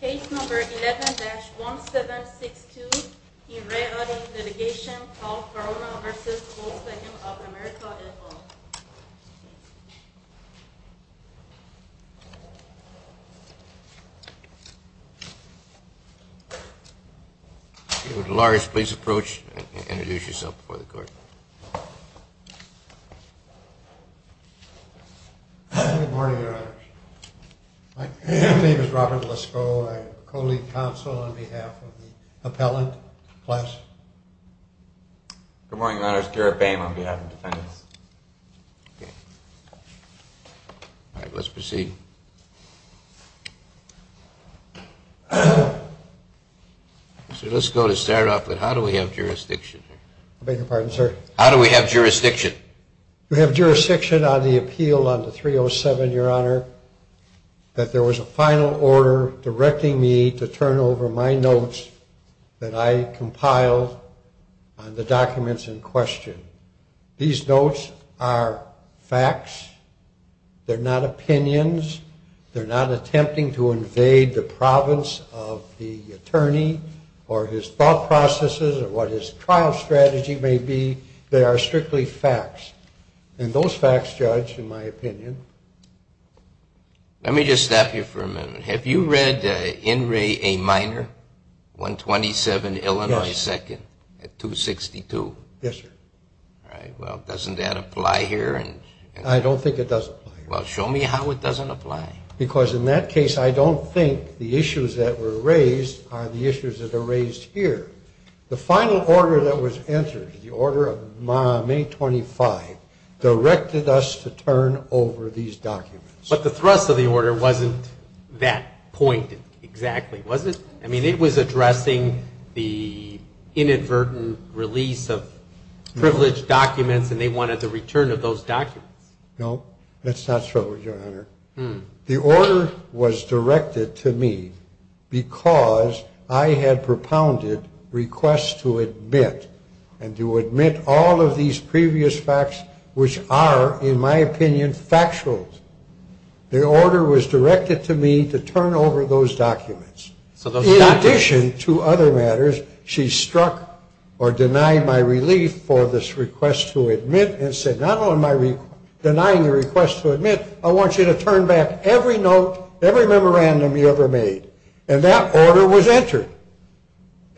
Case number 11-1762, e-Re-Audi Litigation, Paul Corona v. Wolfgang of America et al. My name is Robert Lisko, I'm a co-lead counsel on behalf of the appellant class. Good morning, Your Honor, it's Garrett Boehm on behalf of the defendants. All right, let's proceed. So let's go to start off with how do we have jurisdiction? I beg your pardon, sir? How do we have jurisdiction? We have jurisdiction on the appeal on the 307, Your Honor, that there was a final order directing me to turn over my notes that I compiled on the documents in question. These notes are facts, they're not opinions, they're not attempting to invade the province of the attorney or his thought processes or what his trial strategy may be. They are strictly facts. And those facts, Judge, in my opinion... Let me just stop you for a minute. Have you read N. Ray A. Minor, 127 Illinois 2nd, at 262? Yes, sir. All right, well, doesn't that apply here? I don't think it does. Well, show me how it doesn't apply. Because in that case, I don't think the issues that were raised are the issues that are raised here. The final order that was entered, the order of May 25, directed us to turn over these documents. But the thrust of the order wasn't that point exactly, was it? I mean, it was addressing the inadvertent release of privileged documents, and they wanted the return of those documents. No, that's not true, Your Honor. The order was directed to me because I had propounded requests to admit and to admit all of these previous facts, which are, in my opinion, factual. The order was directed to me to turn over those documents. In addition to other matters, she struck or denied my relief for this request to admit and said, not only am I denying your request to admit, I want you to turn back every note, every memorandum you ever made. And that order was entered.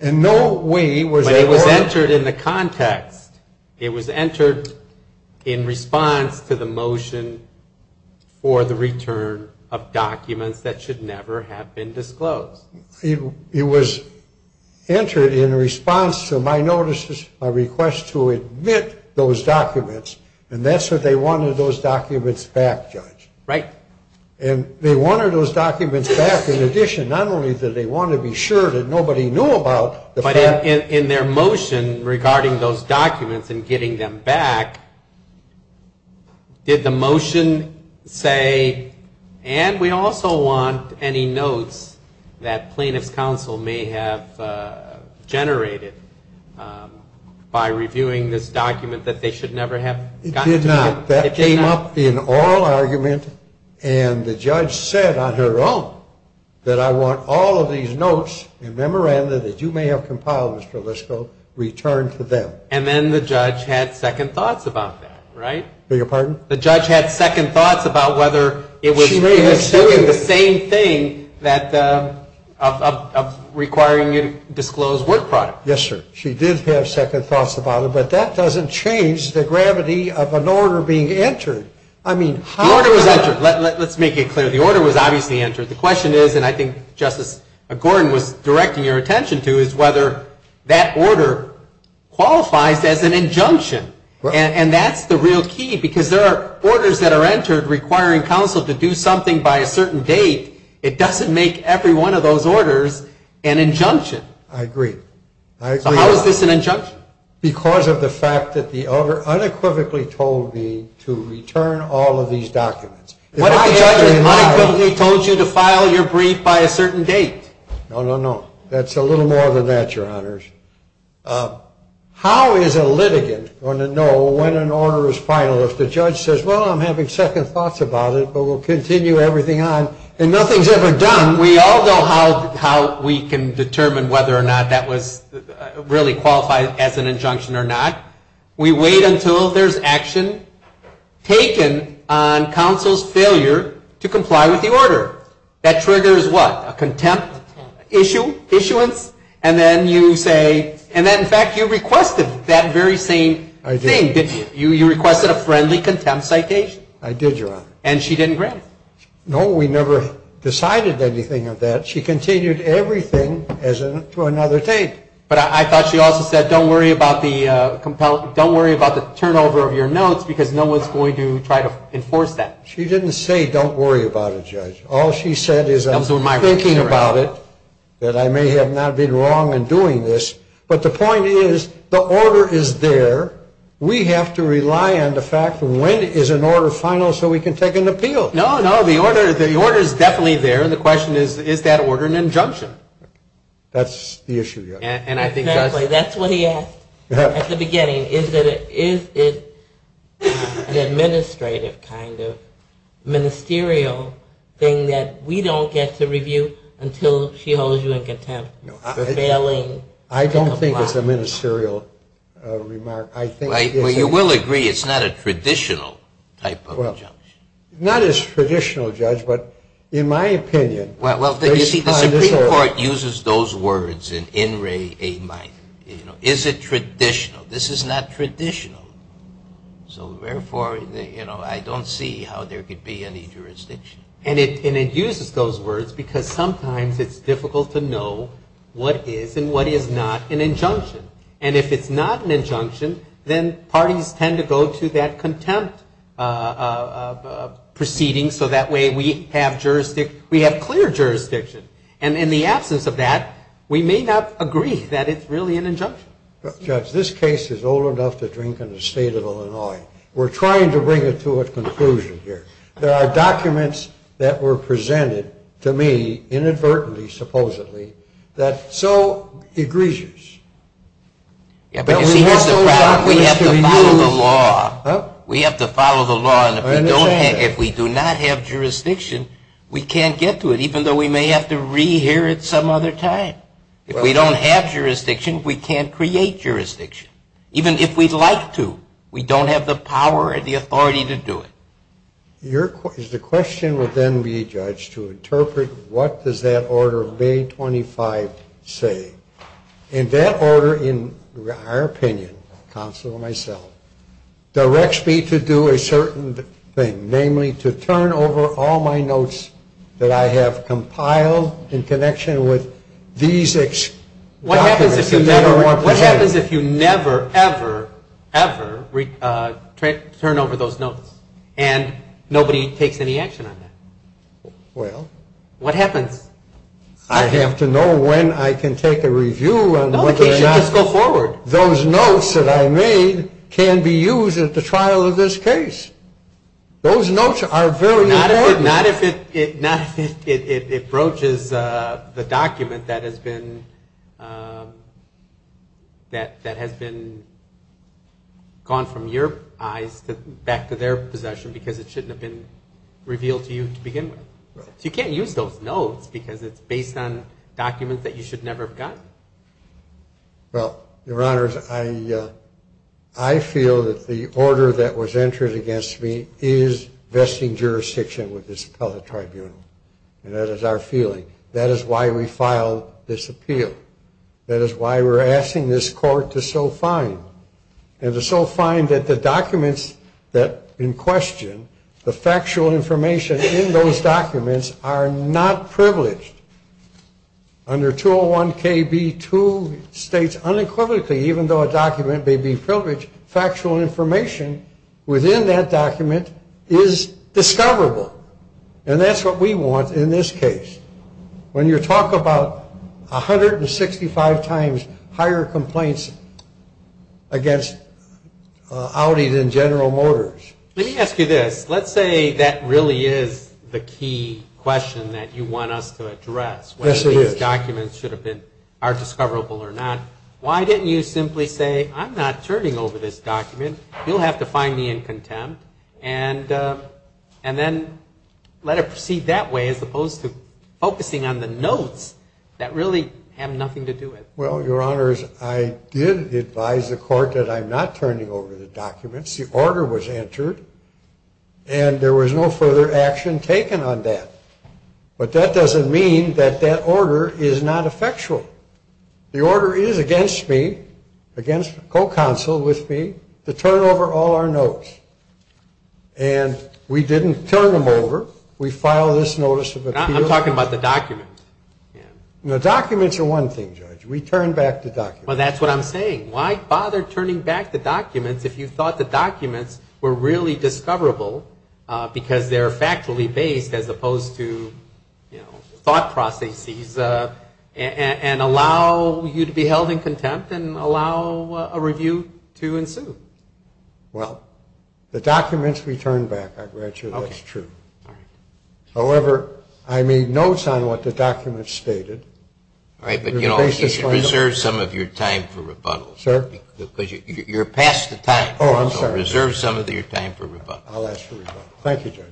And no way was that order- It was entered in response to my notices, my request to admit those documents, and that's what they wanted those documents back, Judge. Right. And they wanted those documents back in addition, not only did they want to be sure that nobody knew about the fact- That plaintiff's counsel may have generated by reviewing this document that they should never have gotten to know. It did not. It did not. That came up in oral argument, and the judge said on her own that I want all of these notes and memorandum that you may have compiled, Mr. Lisko, returned to them. And then the judge had second thoughts about that, right? Beg your pardon? The judge had second thoughts about whether it was- of requiring you to disclose work product. Yes, sir. She did have second thoughts about it, but that doesn't change the gravity of an order being entered. I mean, how- The order was entered. Let's make it clear. The order was obviously entered. The question is, and I think Justice Gordon was directing your attention to, is whether that order qualifies as an injunction. And that's the real key, because there are orders that are entered requiring counsel to do something by a certain date. It doesn't make every one of those orders an injunction. I agree. So how is this an injunction? Because of the fact that the other unequivocally told me to return all of these documents. What if the judge unequivocally told you to file your brief by a certain date? No, no, no. That's a little more than that, Your Honors. How is a litigant going to know when an order is final if the judge says, well, I'm having second thoughts about it, but we'll continue everything on, and nothing's ever done? We all know how we can determine whether or not that was really qualified as an injunction or not. We wait until there's action taken on counsel's failure to comply with the order. That triggers what? A contempt issuance? And then you say, and in fact you requested that very same thing, didn't you? You requested a friendly contempt citation. I did, Your Honor. And she didn't grant it? No, we never decided anything of that. She continued everything to another date. But I thought she also said, don't worry about the turnover of your notes because no one's going to try to enforce that. She didn't say, don't worry about it, Judge. All she said is, I'm thinking about it, that I may have not been wrong in doing this. But the point is, the order is there. We have to rely on the fact when is an order final so we can take an appeal. No, no, the order is definitely there, and the question is, is that order an injunction? That's the issue, Your Honor. Exactly, that's what he asked at the beginning. Is it an administrative kind of ministerial thing that we don't get to review until she holds you in contempt for failing to comply? I don't think it's a ministerial remark. Well, you will agree it's not a traditional type of judge. Not as traditional, Judge, but in my opinion. Well, you see, the Supreme Court uses those words in in re a minor. Is it traditional? This is not traditional. So, therefore, I don't see how there could be any jurisdiction. And it uses those words because sometimes it's difficult to know what is and what is not an injunction. And if it's not an injunction, then parties tend to go to that contempt proceeding so that way we have clear jurisdiction. And in the absence of that, we may not agree that it's really an injunction. Judge, this case is old enough to drink in the state of Illinois. We're trying to bring it to a conclusion here. There are documents that were presented to me inadvertently, supposedly, that so egregious that we have to follow the law. We have to follow the law. And if we do not have jurisdiction, we can't get to it, even though we may have to rehear it some other time. If we don't have jurisdiction, we can't create jurisdiction. Even if we'd like to, we don't have the power or the authority to do it. The question would then be, Judge, to interpret what does that order of May 25 say. And that order, in our opinion, counsel and myself, directs me to do a certain thing, namely, to turn over all my notes that I have compiled in connection with these documents. What happens if you never, ever, ever turn over those notes and nobody takes any action on that? Well? What happens? I have to know when I can take a review on whether or not those notes that I made can be used at the trial of this case. Those notes are very important. Not if it broaches the document that has been gone from your eyes back to their possession because it shouldn't have been revealed to you to begin with. So you can't use those notes because it's based on documents that you should never have gotten. Well, Your Honors, I feel that the order that was entered against me is vesting jurisdiction with this appellate tribunal. And that is our feeling. That is why we filed this appeal. That is why we're asking this court to so fine, and to so fine that the documents that in question, the factual information in those documents, are not privileged. Under 201KB2, it states unequivocally, even though a document may be privileged, factual information within that document is discoverable. And that's what we want in this case. When you talk about 165 times higher complaints against Audi than General Motors. Let me ask you this. Let's say that really is the key question that you want us to address. Yes, it is. Whether these documents are discoverable or not. Why didn't you simply say, I'm not turning over this document. You'll have to find me in contempt. And then let it proceed that way as opposed to focusing on the notes that really have nothing to do with it. Well, Your Honors, I did advise the court that I'm not turning over the documents. The order was entered. And there was no further action taken on that. But that doesn't mean that that order is not effectual. The order is against me, against the co-counsel with me, to turn over all our notes. And we didn't turn them over. We filed this notice of appeal. I'm talking about the documents. The documents are one thing, Judge. We turned back the documents. Well, that's what I'm saying. Why bother turning back the documents if you thought the documents were really discoverable because they're factually based as opposed to, you know, thought processes and allow you to be held in contempt and allow a review to ensue? Well, the documents we turned back. I'm glad you know that's true. However, I made notes on what the documents stated. All right, but, you know, reserve some of your time for rebuttal. Sir? Because you're past the time. Oh, I'm sorry. Reserve some of your time for rebuttal. I'll ask for rebuttal. Thank you, Judge.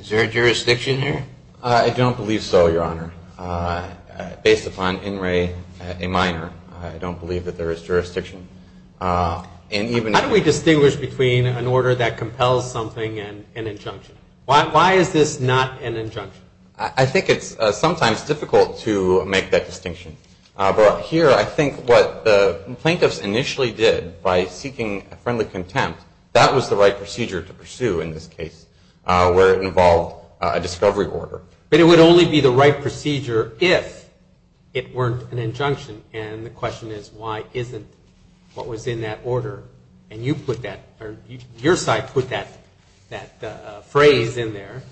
Is there a jurisdiction here? I don't believe so, Your Honor. Based upon in re a minor, I don't believe that there is jurisdiction. How do we distinguish between an order that compels something and an injunction? Why is this not an injunction? I think it's sometimes difficult to make that distinction. But here I think what the plaintiffs initially did by seeking friendly contempt, that was the right procedure to pursue in this case where it involved a discovery order. But it would only be the right procedure if it weren't an injunction. And the question is, why isn't what was in that order? And you put that, or your side put that phrase in there,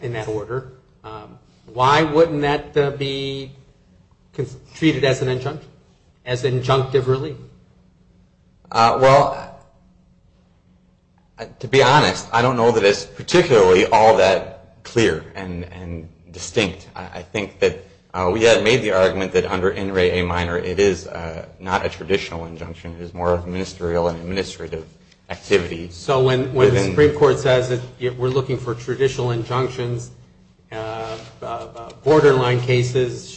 in that order. Why wouldn't that be treated as an injunction, as an injunctive relief? Well, to be honest, I don't know that it's particularly all that clear and distinct. I think that we had made the argument that under in re a minor it is not a traditional injunction. It is more of a ministerial and administrative activity. So when the Supreme Court says that we're looking for traditional injunctions, borderline cases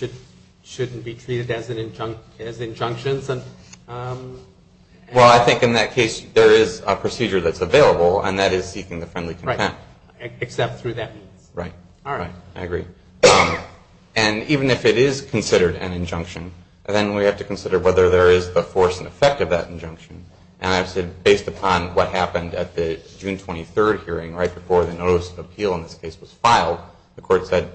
shouldn't be treated as injunctions? Well, I think in that case there is a procedure that's available, and that is seeking the friendly contempt. Right, except through that means. Right. All right. I agree. And even if it is considered an injunction, then we have to consider whether there is the force and effect of that injunction. And I have said, based upon what happened at the June 23 hearing, right before the notice of appeal in this case was filed, the court said,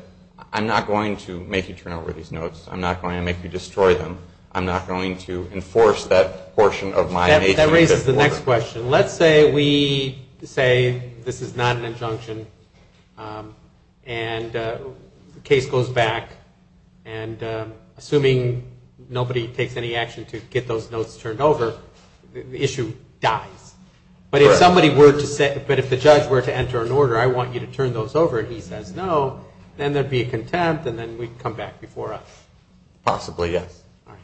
I'm not going to make you turn over these notes. I'm not going to make you destroy them. I'm not going to enforce that portion of my nation. That raises the next question. Let's say we say this is not an injunction, and the case goes back, and assuming nobody takes any action to get those notes turned over, the issue dies. Right. But if somebody were to say, but if the judge were to enter an order, I want you to turn those over, and he says no, then there would be a contempt, and then we'd come back before us. Possibly, yes. All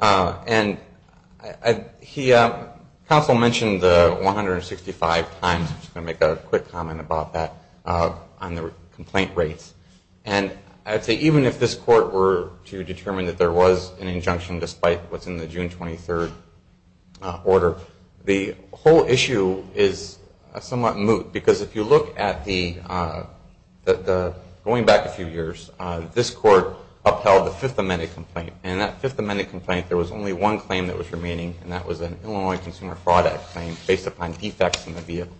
right. And counsel mentioned the 165 times. I'm just going to make a quick comment about that on the complaint rates. And I'd say even if this court were to determine that there was an injunction, despite what's in the June 23rd order, the whole issue is somewhat moot. Because if you look at the going back a few years, this court upheld the Fifth Amendment complaint, and that Fifth Amendment complaint, there was only one claim that was remaining, and that was an Illinois Consumer Fraud Act claim based upon defects in the vehicle.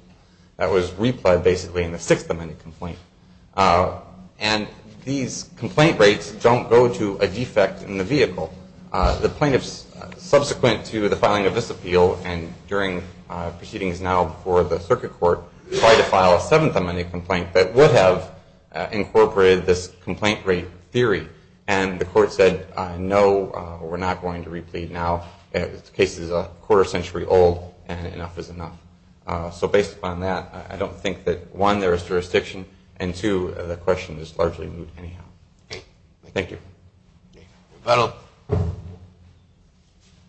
That was replied, basically, in the Sixth Amendment complaint. And these complaint rates don't go to a defect in the vehicle. The plaintiffs subsequent to the filing of this appeal and during proceedings now before the circuit court try to file a Seventh Amendment complaint that would have incorporated this complaint rate theory. And the court said, no, we're not going to replead now. The case is a quarter century old, and enough is enough. So based upon that, I don't think that, one, there is jurisdiction, and, two, the question is largely moot anyhow. Thank you. Rebuttal.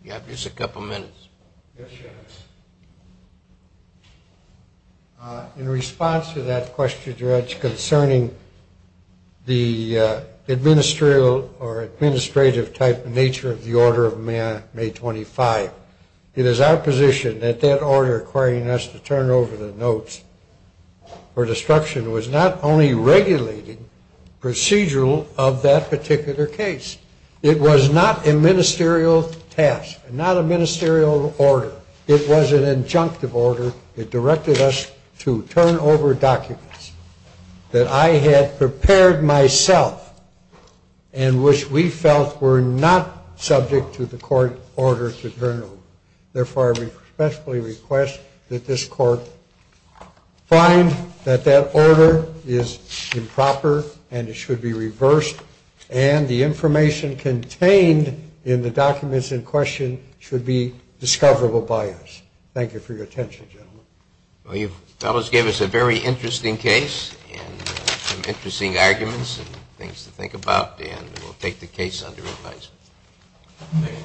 You have just a couple minutes. Yes, Your Honor. In response to that question, Judge, concerning the administrative type and nature of the Order of May 25th, it is our position that that order requiring us to turn over the notes for destruction was not only regulating procedural of that particular case. It was not a ministerial task, not a ministerial order. It was an injunctive order. It directed us to turn over documents that I had prepared myself and which we felt were not subject to the court order to turn over. Therefore, I respectfully request that this court find that that order is improper and it should be reversed, and the information contained in the documents in question should be discoverable by us. Thank you for your attention, gentlemen. Well, you fellows gave us a very interesting case and some interesting arguments and things to think about, and we'll take the case under advisement.